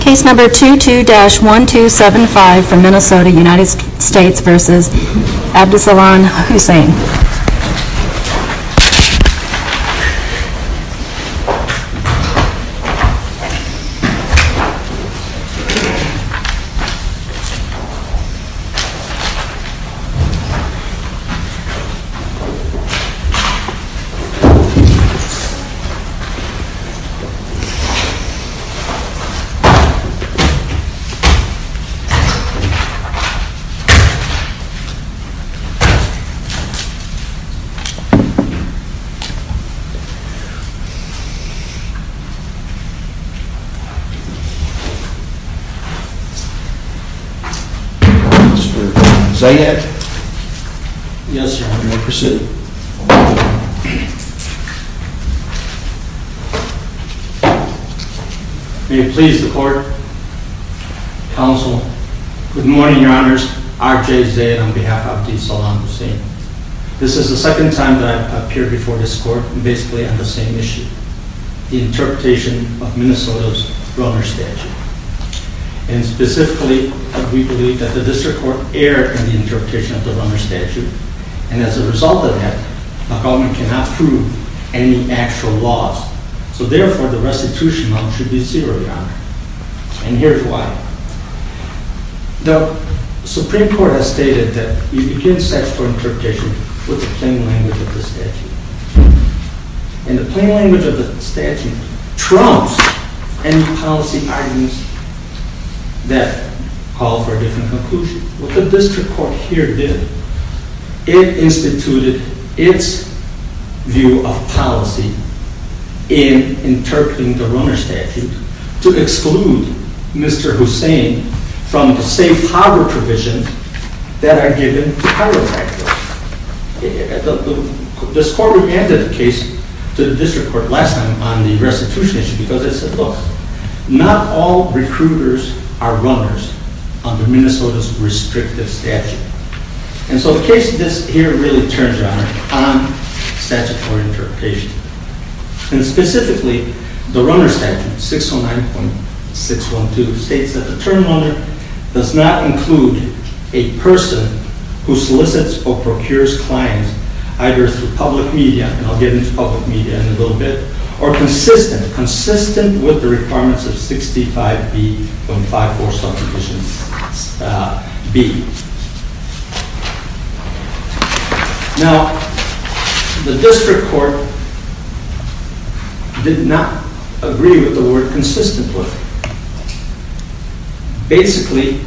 Case number 22-1275 from Minnesota United States v. Abdisalan Hussein Case number 22-1275 from Minnesota United States v. Abdisalan Hussein Good morning Your Honors, R.J. Zaid on behalf of Abdisalan Hussein. This is the second time that I've appeared before this court basically on the same issue. The interpretation of Minnesota's Runner Statute. And specifically, we believe that the District Court erred in the interpretation of the Runner Statute. And as a result of that, the government cannot prove any actual laws. So therefore, the restitution amount should be zero, Your Honor. And here's why. The Supreme Court has stated that you can't search for interpretation with the plain language of the statute. And the plain language of the statute trumps any policy arguments that call for a different conclusion. What the District Court here did, it instituted its view of policy in interpreting the Runner Statute to exclude Mr. Hussein from the safe harbor provisions that are given in the Harbor Act. This court remanded the case to the District Court last time on the restitution issue because it said, Not all recruiters are runners under Minnesota's restrictive statute. And so the case here really turns, Your Honor, on statutory interpretation. And specifically, the Runner Statute 609.612 states that the term runner does not include a person who solicits or procures clients either through public media, and I'll get into public media in a little bit, or consistent, consistent with the requirements of 65B.54 subdivision B. Now, the District Court did not agree with the word consistent with. Basically,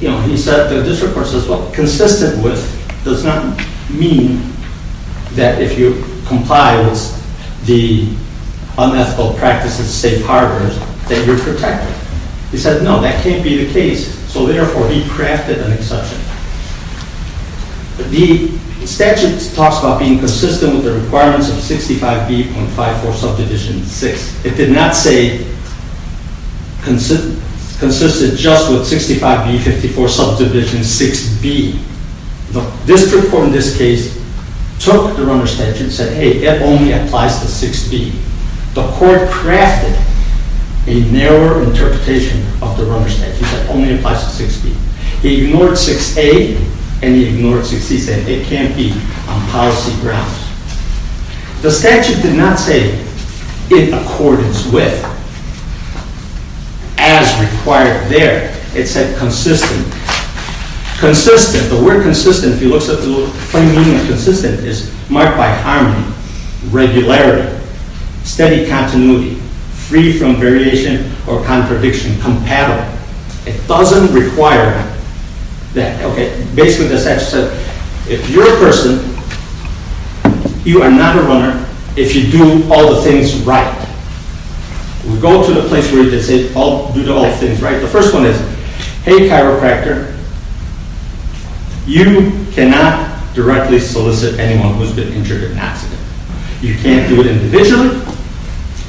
you know, he said, the District Court says, well, consistent with does not mean that if you comply with the unethical practices of safe harbors, that you're protected. He said, no, that can't be the case. So therefore, he crafted an exception. The statute talks about being consistent with the requirements of 65B.54 subdivision 6. It did not say consistent just with 65B.54 subdivision 6B. The District Court in this case took the Runner Statute and said, hey, it only applies to 6B. The Court crafted a narrower interpretation of the Runner Statute that only applies to 6B. He ignored 6A and he ignored 6C, saying it can't be on policy grounds. The statute did not say in accordance with, as required there. It said consistent. Consistent, the word consistent, if you look at the funny meaning of consistent, is marked by harmony, regularity, steady continuity, free from variation or contradiction, compatible. It doesn't require that, okay, basically the statute said, if you're a person, you are not a runner if you do all the things right. We go to the place where they say do all the things right. The first one is, hey, chiropractor, you cannot directly solicit anyone who's been injured in an accident. You can't do it individually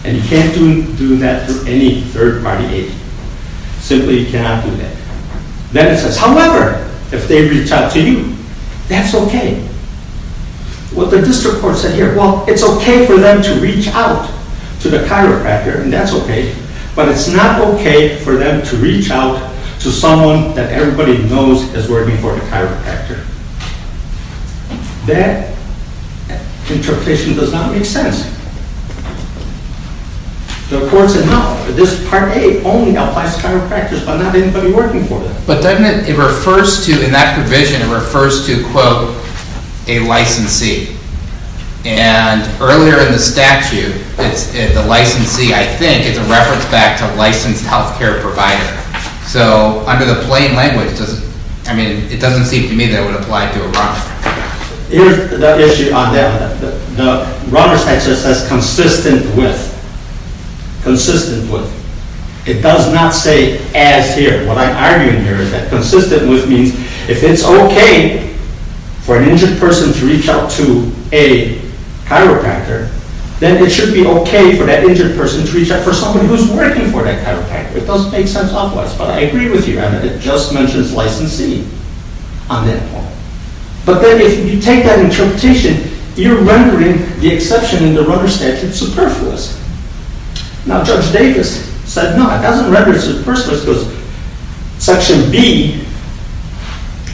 and you can't do that to any third-party aid. Simply you cannot do that. Then it says, however, if they reach out to you, that's okay. What the District Court said here, well, it's okay for them to reach out to the chiropractor and that's okay, but it's not okay for them to reach out to someone that everybody knows is working for the chiropractor. That interpretation does not make sense. The court said, no, this Part A only applies to chiropractors, but not anybody working for them. But doesn't it, it refers to, in that provision, it refers to, quote, a licensee. And earlier in the statute, the licensee, I think, is a reference back to a licensed healthcare provider. So under the plain language, I mean, it doesn't seem to me that it would apply to a runner. Here's the issue on that one. The runner statute says consistent with. Consistent with. It does not say as here. What I'm arguing here is that consistent with means if it's okay for an injured person to reach out to a chiropractor, then it should be okay for that injured person to reach out for someone who's working for that chiropractor. It doesn't make sense otherwise, but I agree with you. I mean, it just mentions licensee on that point. But then if you take that interpretation, you're rendering the exception in the runner statute superfluous. Now, Judge Davis said, no, it doesn't render it superfluous because Section B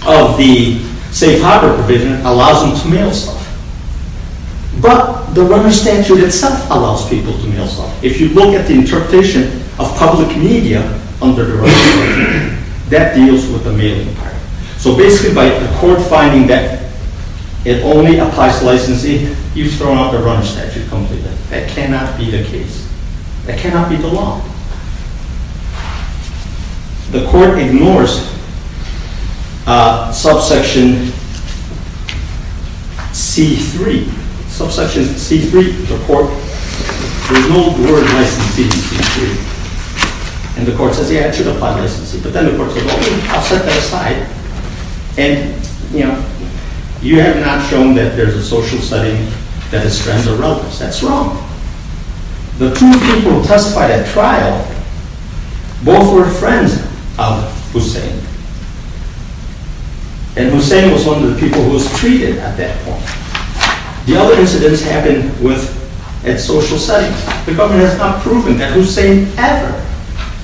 of the safe harbor provision allows them to mail stuff. But the runner statute itself allows people to mail stuff. If you look at the interpretation of public media under the runner statute, that deals with the mailing part. So basically, by the court finding that it only applies to licensee, you've thrown out the runner statute completely. That cannot be the case. That cannot be the law. The court ignores subsection C-3. Subsection C-3, the court, there's no word licensee in C-3. And the court says, yeah, it should apply to licensee. But then the court says, okay, I'll set that aside. And, you know, you have not shown that there's a social setting that is stranded or relative. That's wrong. The two people who testified at trial, both were friends of Hussein. And Hussein was one of the people who was treated at that point. The other incidents happened at social settings. The government has not proven that Hussein ever,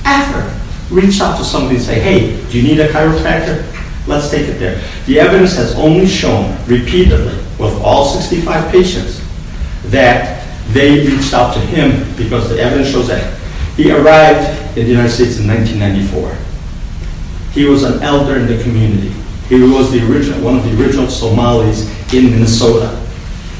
ever reached out to somebody and said, hey, do you need a chiropractor? Let's take it there. The evidence has only shown repeatedly with all 65 patients that they reached out to him because the evidence shows that. He arrived in the United States in 1994. He was an elder in the community. He was one of the original Somalis in Minnesota.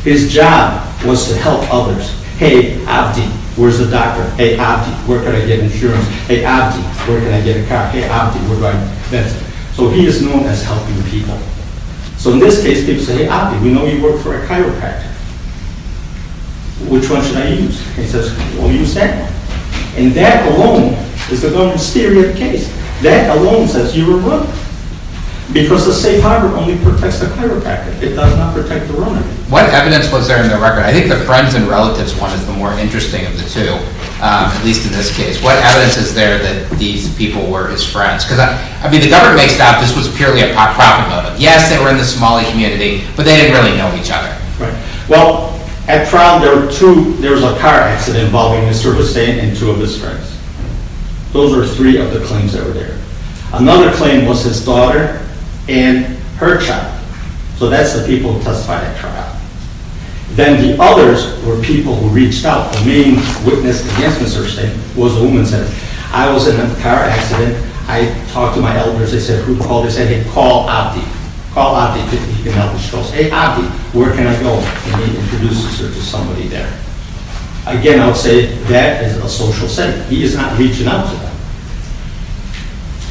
His job was to help others. Hey, Abdi, where's the doctor? Hey, Abdi, where can I get insurance? Hey, Abdi, where can I get a car? Hey, Abdi, we're right there. So he is known as helping people. So in this case, people say, hey, Abdi, we know you work for a chiropractor. Which one should I use? He says, well, use that one. And that alone is the government's theory of the case. That alone says you were wrong because the safe harbor only protects the chiropractor. It does not protect the runner. What evidence was there in the record? I think the friends and relatives one is the more interesting of the two, at least in this case. What evidence is there that these people were his friends? Because, I mean, the government makes it out this was purely a profit motive. Yes, they were in the Somali community, but they didn't really know each other. Right. Well, at trial, there were two. There was a car accident involving Mr. Ustain and two of his friends. Those are three of the claims that were there. Another claim was his daughter and her child. So that's the people who testified at trial. Then the others were people who reached out. The main witness against Mr. Ustain was a woman who said, I was in a car accident. I talked to my elders. I said, who called? They said, hey, call Abdi. Call Abdi. She goes, hey, Abdi, where can I go? And he introduces her to somebody there. Again, I would say that is a social sentiment. He is not reaching out to them.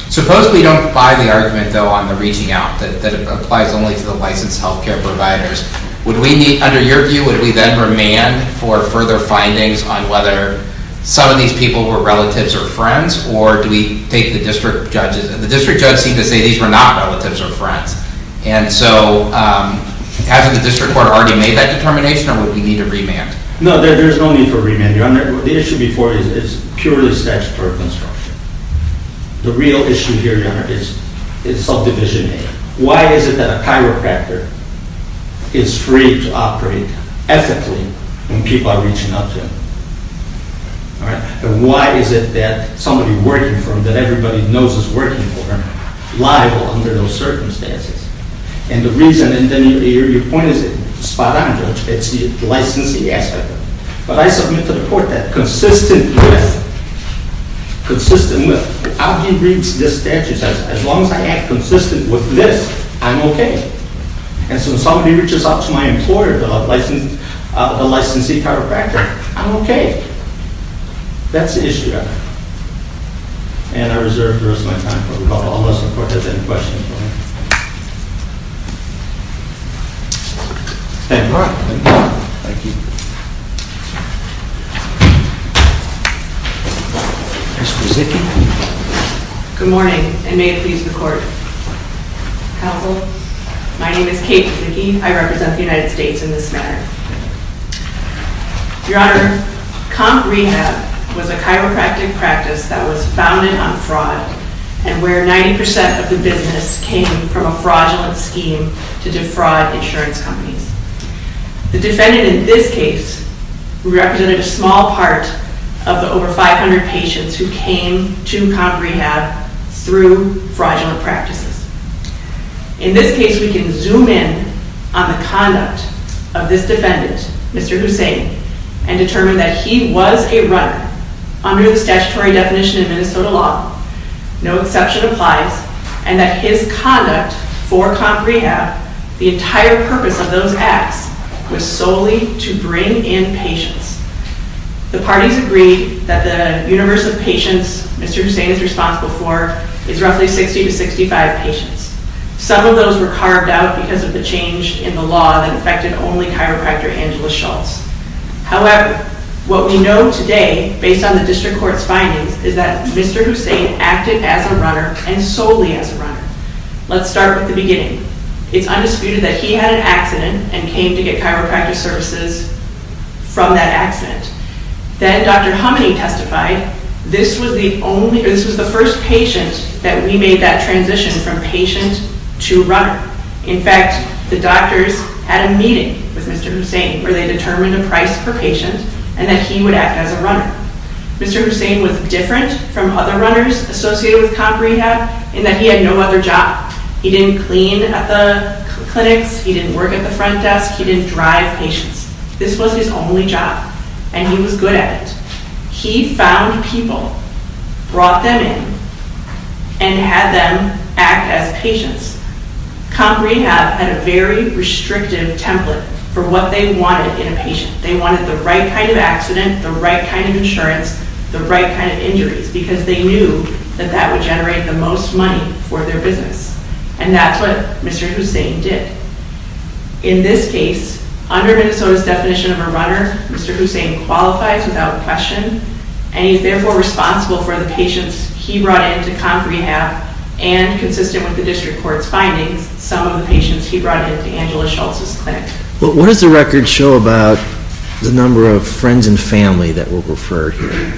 Suppose we don't buy the argument, though, on the reaching out that applies only to the licensed health care providers. Would we need, under your view, would we then remand for further findings on whether some of these people were relatives or friends? Or do we take the district judges? The district judges seem to say these were not relatives or friends. And so hasn't the district court already made that determination, or would we need a remand? No, there's no need for remand, Your Honor. The issue before is purely statutory construction. The real issue here, Your Honor, is subdivision A. Why is it that a chiropractor is free to operate ethically when people are reaching out to him? And why is it that somebody working for him, that everybody knows is working for him, is liable under those circumstances? And the reason, and then your point is spot on, Judge. It's the licensing aspect. But I submit to the court that consistent with Abdi reads this statute, as long as I act consistent with this, I'm okay. And so when somebody reaches out to my employer, the licensee chiropractor, I'm okay. That's the issue, Your Honor. And I reserve the rest of my time for rebuttal unless the court has any questions. Thank you, Your Honor. Thank you, Your Honor. Thank you. Good morning, and may it please the court. Counsel, my name is Kate Zickey. I represent the United States in this matter. Your Honor, comp rehab was a chiropractic practice that was founded on fraud, and where 90% of the business came from a fraudulent scheme to defraud insurance companies. The defendant in this case represented a small part of the over 500 patients who came to comp rehab through fraudulent practices. In this case, we can zoom in on the conduct of this defendant, Mr. Hussain, and determine that he was a runner under the statutory definition of Minnesota law, no exception applies, and that his conduct for comp rehab, the entire purpose of those acts, was solely to bring in patients. The parties agreed that the universe of patients Mr. Hussain is responsible for is roughly 60 to 65 patients. Some of those were carved out because of the change in the law that affected only chiropractor Angela Schultz. However, what we know today, based on the district court's findings, is that Mr. Hussain acted as a runner and solely as a runner. Let's start with the beginning. It's undisputed that he had an accident and came to get chiropractic services from that accident. Then Dr. Hummany testified, this was the first patient that we made that transition from patient to runner. In fact, the doctors had a meeting with Mr. Hussain where they determined a price per patient and that he would act as a runner. Mr. Hussain was different from other runners associated with comp rehab in that he had no other job. He didn't clean at the clinics, he didn't work at the front desk, he didn't drive patients. This was his only job, and he was good at it. He found people, brought them in, and had them act as patients. Comp rehab had a very restrictive template for what they wanted in a patient. They wanted the right kind of accident, the right kind of insurance, the right kind of injuries, because they knew that that would generate the most money for their business. And that's what Mr. Hussain did. In this case, under Minnesota's definition of a runner, Mr. Hussain qualifies without question, and he's therefore responsible for the patients he brought in to comp rehab and, consistent with the district court's findings, some of the patients he brought in to Angela Schultz's clinic. What does the record show about the number of friends and family that were referred here?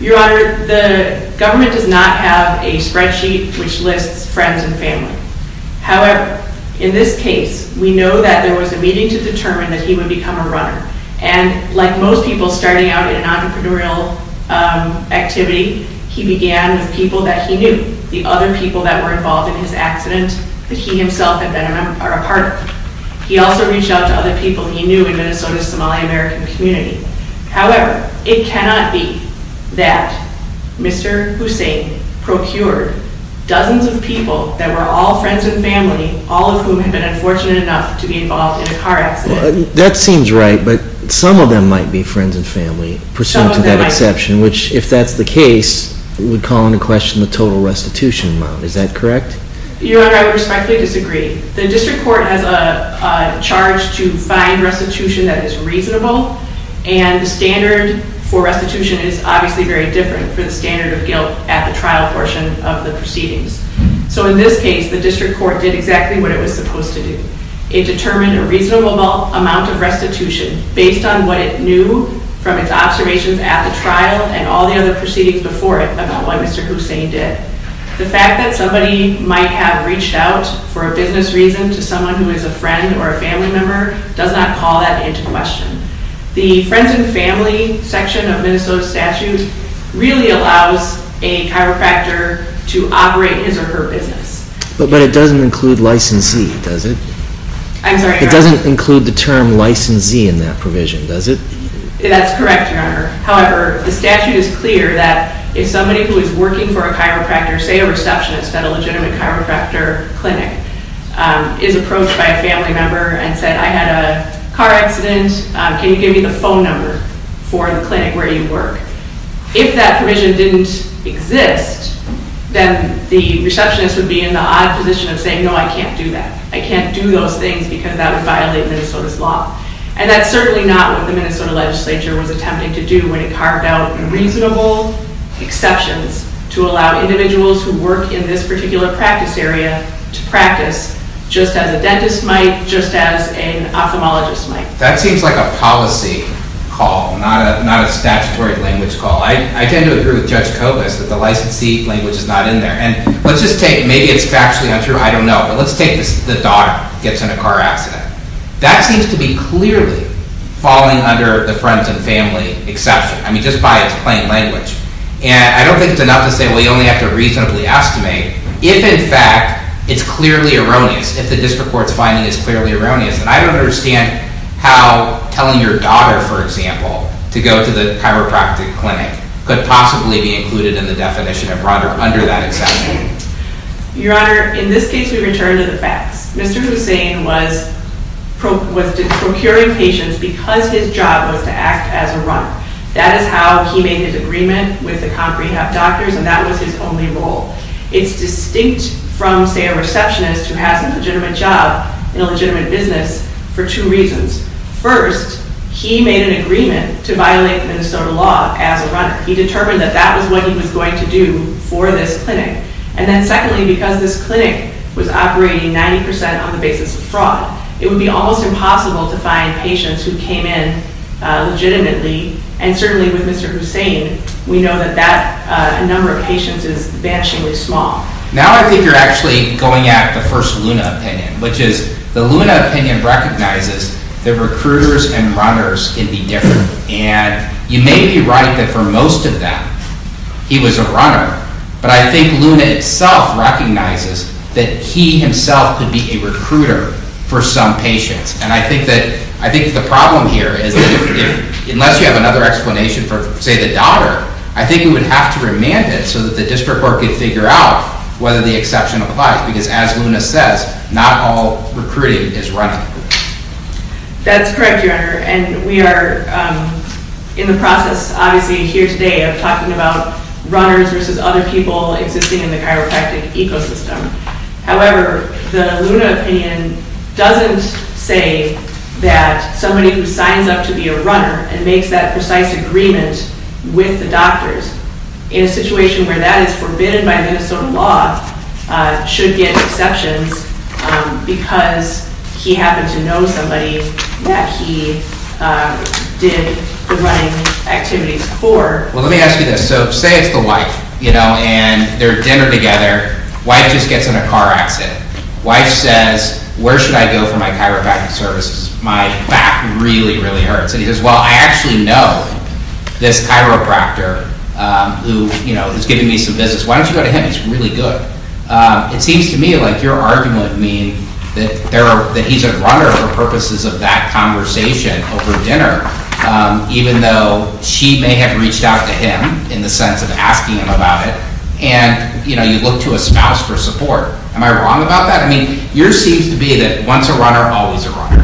Your Honor, the government does not have a spreadsheet which lists friends and family. However, in this case, we know that there was a meeting to determine that he would become a runner, and like most people starting out in an entrepreneurial activity, he began with people that he knew, the other people that were involved in his accident that he himself had been a part of. He also reached out to other people he knew in Minnesota's Somali-American community. However, it cannot be that Mr. Hussain procured dozens of people that were all friends and family, all of whom had been unfortunate enough to be involved in a car accident. That seems right, but some of them might be friends and family, pursuant to that exception, which, if that's the case, would call into question the total restitution amount. Is that correct? Your Honor, I respectfully disagree. The district court has a charge to find restitution that is reasonable, and the standard for restitution is obviously very different from the standard of guilt at the trial portion of the proceedings. So in this case, the district court did exactly what it was supposed to do. It determined a reasonable amount of restitution based on what it knew from its observations at the trial and all the other proceedings before it about what Mr. Hussain did. The fact that somebody might have reached out for a business reason to someone who is a friend or a family member does not call that into question. The friends and family section of Minnesota's statute really allows a chiropractor to operate his or her business. But it doesn't include licensee, does it? I'm sorry, Your Honor? It doesn't include the term licensee in that provision, does it? That's correct, Your Honor. However, the statute is clear that if somebody who is working for a chiropractor, say a receptionist at a legitimate chiropractor clinic, is approached by a family member and said, I had a car accident, can you give me the phone number for the clinic where you work? If that provision didn't exist, then the receptionist would be in the odd position of saying, no, I can't do that. I can't do those things because that would violate Minnesota's law. And that's certainly not what the Minnesota legislature was attempting to do when it carved out reasonable exceptions to allow individuals who work in this particular practice area to practice just as a dentist might, just as an ophthalmologist might. That seems like a policy call, not a statutory language call. I tend to agree with Judge Kobus that the licensee language is not in there. And let's just take, maybe it's factually untrue, I don't know, but let's take the daughter gets in a car accident. That seems to be clearly falling under the friends and family exception. I mean, just by its plain language. And I don't think it's enough to say, well, you only have to reasonably estimate if, in fact, it's clearly erroneous, if the district court's finding is clearly erroneous. And I don't understand how telling your daughter, for example, to go to the chiropractic clinic could possibly be included in the definition of broader under that exception. Your Honor, in this case, we return to the facts. Mr. Hussain was procuring patients because his job was to act as a runner. That is how he made his agreement with the comp rehab doctors, and that was his only role. It's distinct from, say, a receptionist who has a legitimate job in a legitimate business for two reasons. First, he made an agreement to violate Minnesota law as a runner. He determined that that was what he was going to do for this clinic. And then secondly, because this clinic was operating 90 percent on the basis of fraud, it would be almost impossible to find patients who came in legitimately. And certainly with Mr. Hussain, we know that that number of patients is vanishingly small. Now I think you're actually going at the first Luna opinion, which is the Luna opinion recognizes that recruiters and runners can be different. And you may be right that for most of that, he was a runner. But I think Luna itself recognizes that he himself could be a recruiter for some patients. And I think the problem here is that unless you have another explanation for, say, the daughter, I think we would have to remand it so that the district court could figure out whether the exception applies, because as Luna says, not all recruiting is running. That's correct, Your Honor. And we are in the process, obviously, here today of talking about runners versus other people existing in the chiropractic ecosystem. However, the Luna opinion doesn't say that somebody who signs up to be a runner and makes that precise agreement with the doctors in a situation where that is forbidden by Minnesota law should get exceptions because he happened to know somebody that he did the running activities for. Well, let me ask you this. So say it's the wife, you know, and they're at dinner together. Wife just gets in a car accident. Wife says, where should I go for my chiropractic services? My back really, really hurts. And he says, well, I actually know this chiropractor who is giving me some visits. Why don't you go to him? He's really good. It seems to me like your argument would mean that he's a runner for purposes of that conversation over dinner, even though she may have reached out to him in the sense of asking him about it. And, you know, you look to a spouse for support. Am I wrong about that? I mean, yours seems to be that once a runner, always a runner.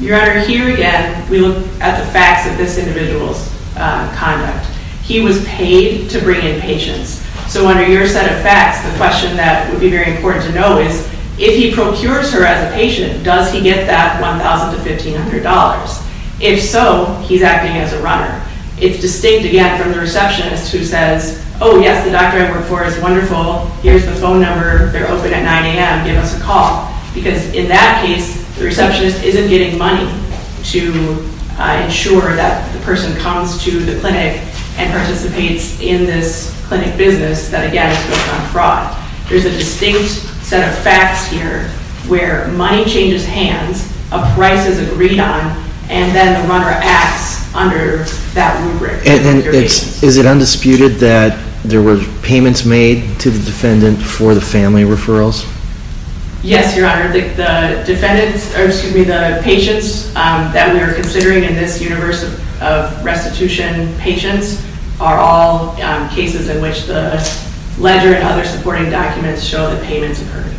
Your Honor, here again we look at the facts of this individual's conduct. He was paid to bring in patients. So under your set of facts, the question that would be very important to know is if he procures her as a patient, does he get that $1,000 to $1,500? If so, he's acting as a runner. It's distinct, again, from the receptionist who says, oh, yes, the doctor I work for is wonderful. Here's the phone number. Give us a call. Because in that case, the receptionist isn't getting money to ensure that the person comes to the clinic and participates in this clinic business that, again, is focused on fraud. There's a distinct set of facts here where money changes hands, a price is agreed on, and then the runner acts under that rubric. And is it undisputed that there were payments made to the defendant for the family referrals? Yes, Your Honor. The patients that we are considering in this universe of restitution patients are all cases in which the ledger and other supporting documents show the payments occurred.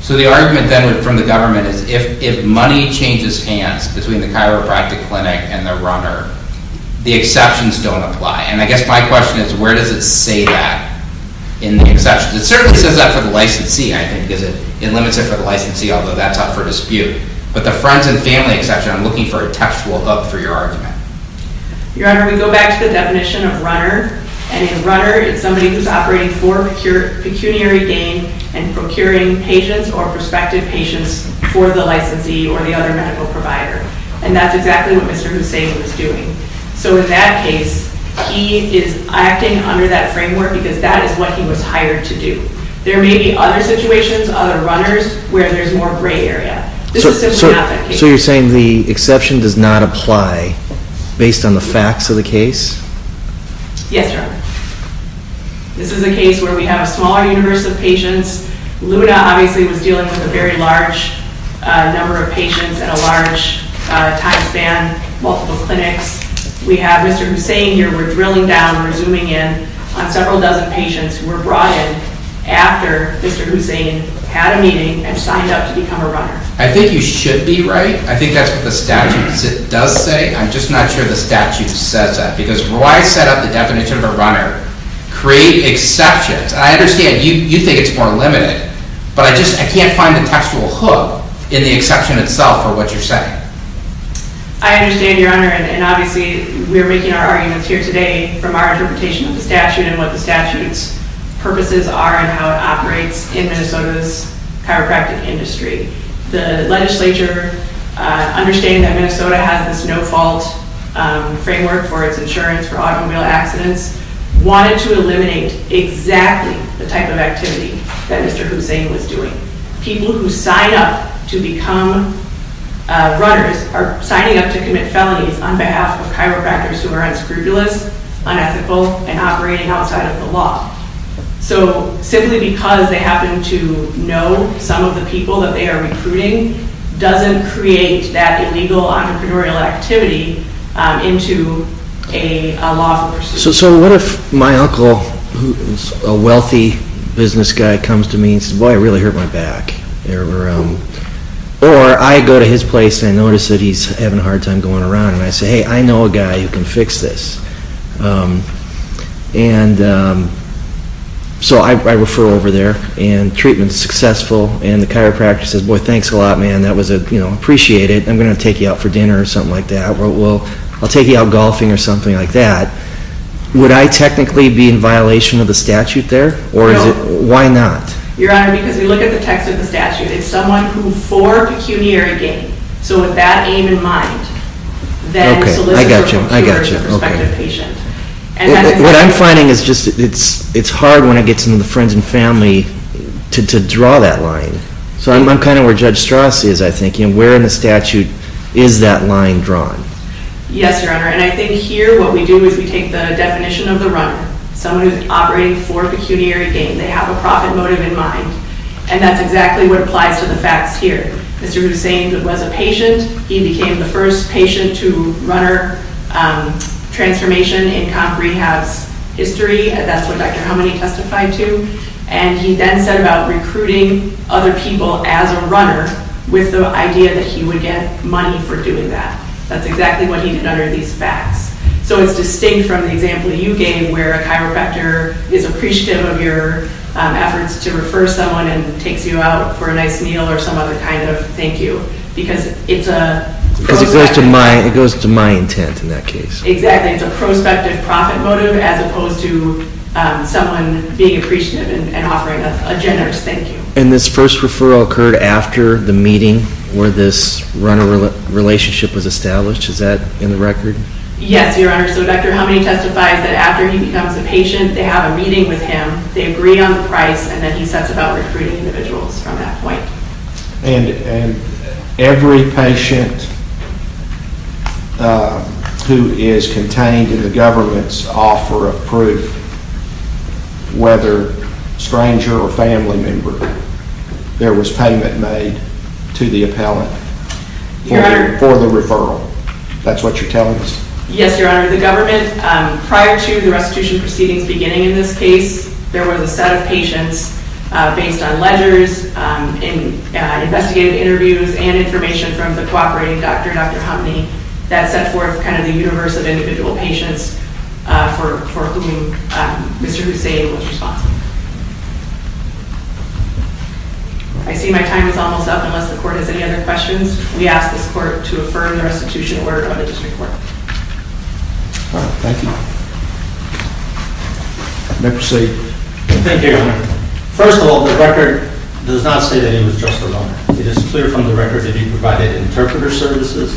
So the argument then from the government is if money changes hands between the chiropractic clinic and the runner, the exceptions don't apply. And I guess my question is where does it say that in the exceptions? It certainly says that for the licensee, I think, because it limits it for the licensee, although that's up for dispute. But the friends and family exception, I'm looking for a textual hook for your argument. Your Honor, we go back to the definition of runner. And a runner is somebody who's operating for pecuniary gain and procuring patients or prospective patients for the licensee or the other medical provider. And that's exactly what Mr. Hussain was doing. So in that case, he is acting under that framework because that is what he was hired to do. There may be other situations, other runners, where there's more gray area. This is simply not that case. So you're saying the exception does not apply based on the facts of the case? Yes, Your Honor. This is a case where we have a smaller universe of patients. Luna, obviously, was dealing with a very large number of patients at a large time span, multiple clinics. We have Mr. Hussain here. We're drilling down, we're zooming in on several dozen patients who were brought in after Mr. Hussain had a meeting and signed up to become a runner. I think you should be right. I think that's what the statute does say. I'm just not sure the statute says that. Because why set up the definition of a runner? Create exceptions. I understand you think it's more limited. But I just can't find the textual hook in the exception itself for what you're saying. I understand, Your Honor. And obviously, we're making our arguments here today from our interpretation of the statute and what the statute's purposes are and how it operates in Minnesota's chiropractic industry. The legislature understands that Minnesota has this no-fault framework for its insurance for automobile accidents. They wanted to eliminate exactly the type of activity that Mr. Hussain was doing. People who sign up to become runners are signing up to commit felonies on behalf of chiropractors who are unscrupulous, unethical, and operating outside of the law. So simply because they happen to know some of the people that they are recruiting doesn't create that illegal entrepreneurial activity into a law force. So what if my uncle, who is a wealthy business guy, comes to me and says, Boy, I really hurt my back. Or I go to his place and I notice that he's having a hard time going around, and I say, Hey, I know a guy who can fix this. So I refer over there, and treatment's successful, and the chiropractor says, Boy, thanks a lot, man. That was appreciated. I'm going to take you out for dinner or something like that. I'll take you out golfing or something like that. Would I technically be in violation of the statute there? No. Why not? Your Honor, because if you look at the text of the statute, it's someone who for pecuniary gain, so with that aim in mind, then solicits or compures a prospective patient. What I'm finding is just it's hard when it gets into the friends and family to draw that line. So I'm kind of where Judge Strauss is, I think. Where in the statute is that line drawn? Yes, Your Honor. And I think here what we do is we take the definition of the runner, someone who's operating for pecuniary gain. They have a profit motive in mind. And that's exactly what applies to the facts here. Mr. Hussain was a patient. He became the first patient to runner transformation in comp rehab's history. That's what Dr. Howmany testified to. And he then set about recruiting other people as a runner with the idea that he would get money for doing that. That's exactly what he did under these facts. So it's distinct from the example you gave where a chiropractor is appreciative of your efforts to refer someone and takes you out for a nice meal or some other kind of thank you because it's a prospective. Because it goes to my intent in that case. Exactly. It's a prospective profit motive as opposed to someone being appreciative and offering a generous thank you. And this first referral occurred after the meeting where this runner relationship was established. Is that in the record? Yes, Your Honor. So Dr. Howmany testifies that after he becomes a patient, they have a meeting with him, they agree on the price, and then he sets about recruiting individuals from that point. And every patient who is contained in the government's offer of proof, whether stranger or family member, there was payment made to the appellant for the referral. That's what you're telling us? Yes, Your Honor. The government, prior to the restitution proceedings beginning in this case, there was a set of patients based on ledgers, investigative interviews, and information from the cooperating doctor, Dr. Howmany, that set forth kind of the universe of individual patients for whom Mr. Hussain was responsible. I see my time is almost up unless the court has any other questions. We ask this court to affirm the restitution order of the district court. All right. Thank you. Thank you, Your Honor. First of all, the record does not say that he was just a loaner. It is clear from the record that he provided interpreter services.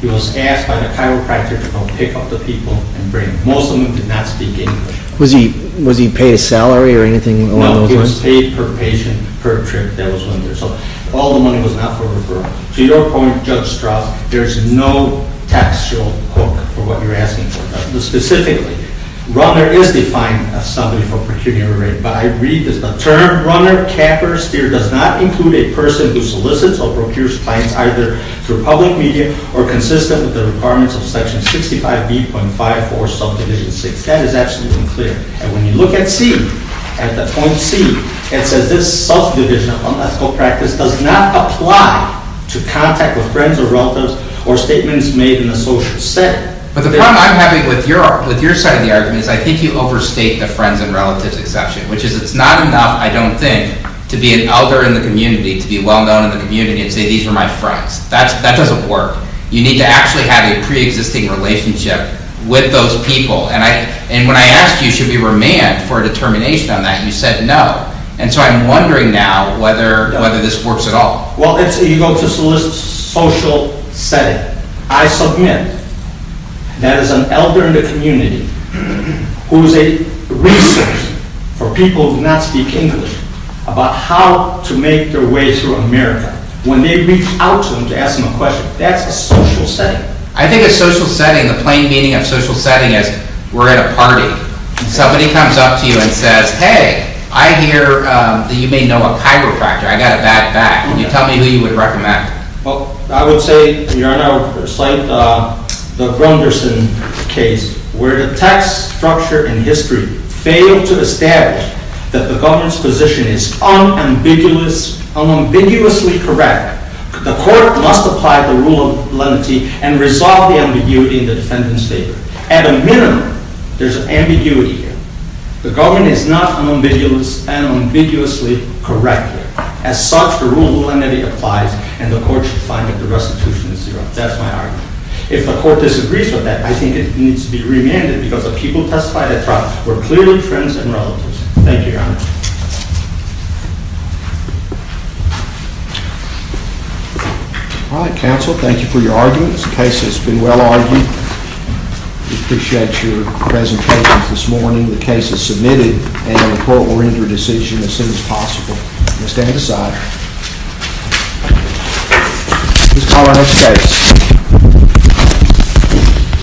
He was asked by the chiropractor to come pick up the people and bring them. Most of them did not speak English. Was he paid a salary or anything along those lines? No, he was paid per patient per trip that was rendered. So all the money was not for referral. To your point, Judge Strauss, there's no tax show hook for what you're asking for. Specifically, runner is defined as somebody for procuring a rate. But I read that the term runner, capper, steer does not include a person who solicits or procures clients either through public media or consistent with the requirements of Section 65B.5 or subdivision 6. That is absolutely clear. And when you look at C, at the point C, it says this subdivision of unethical practice does not apply to contact with friends or relatives or statements made in a social setting. But the problem I'm having with your side of the argument is I think you overstate the friends and relatives exception, which is it's not enough, I don't think, to be an elder in the community, to be well-known in the community and say these are my friends. That doesn't work. You need to actually have a pre-existing relationship with those people. And when I asked you should we remand for a determination on that, you said no. And so I'm wondering now whether this works at all. Well, you go to solicit social setting. I submit that as an elder in the community who is a resource for people who do not speak English about how to make their way through America, when they reach out to them to ask them a question, that's a social setting. I think a social setting, the plain meaning of social setting is we're at a party, and somebody comes up to you and says, hey, I hear that you may know a chiropractor. I got a bad back. Can you tell me who you would recommend? Well, I would say, Your Honor, I would cite the Grunderson case where the text, structure, and history fail to establish that the government's position is unambiguously correct. The court must apply the rule of lenity and resolve the ambiguity in the defendant's favor. At a minimum, there's ambiguity here. The government is not unambiguously correct here. As such, the rule of lenity applies, and the court should find that the restitution is zero. That's my argument. If the court disagrees with that, I think it needs to be remanded because the people who testified at trial were clearly friends and relatives. Thank you, Your Honor. All right, counsel, thank you for your arguments. The case has been well argued. We appreciate your presentations this morning. The case is submitted, and the court will render a decision as soon as possible. You may stand aside. This is Colorado State.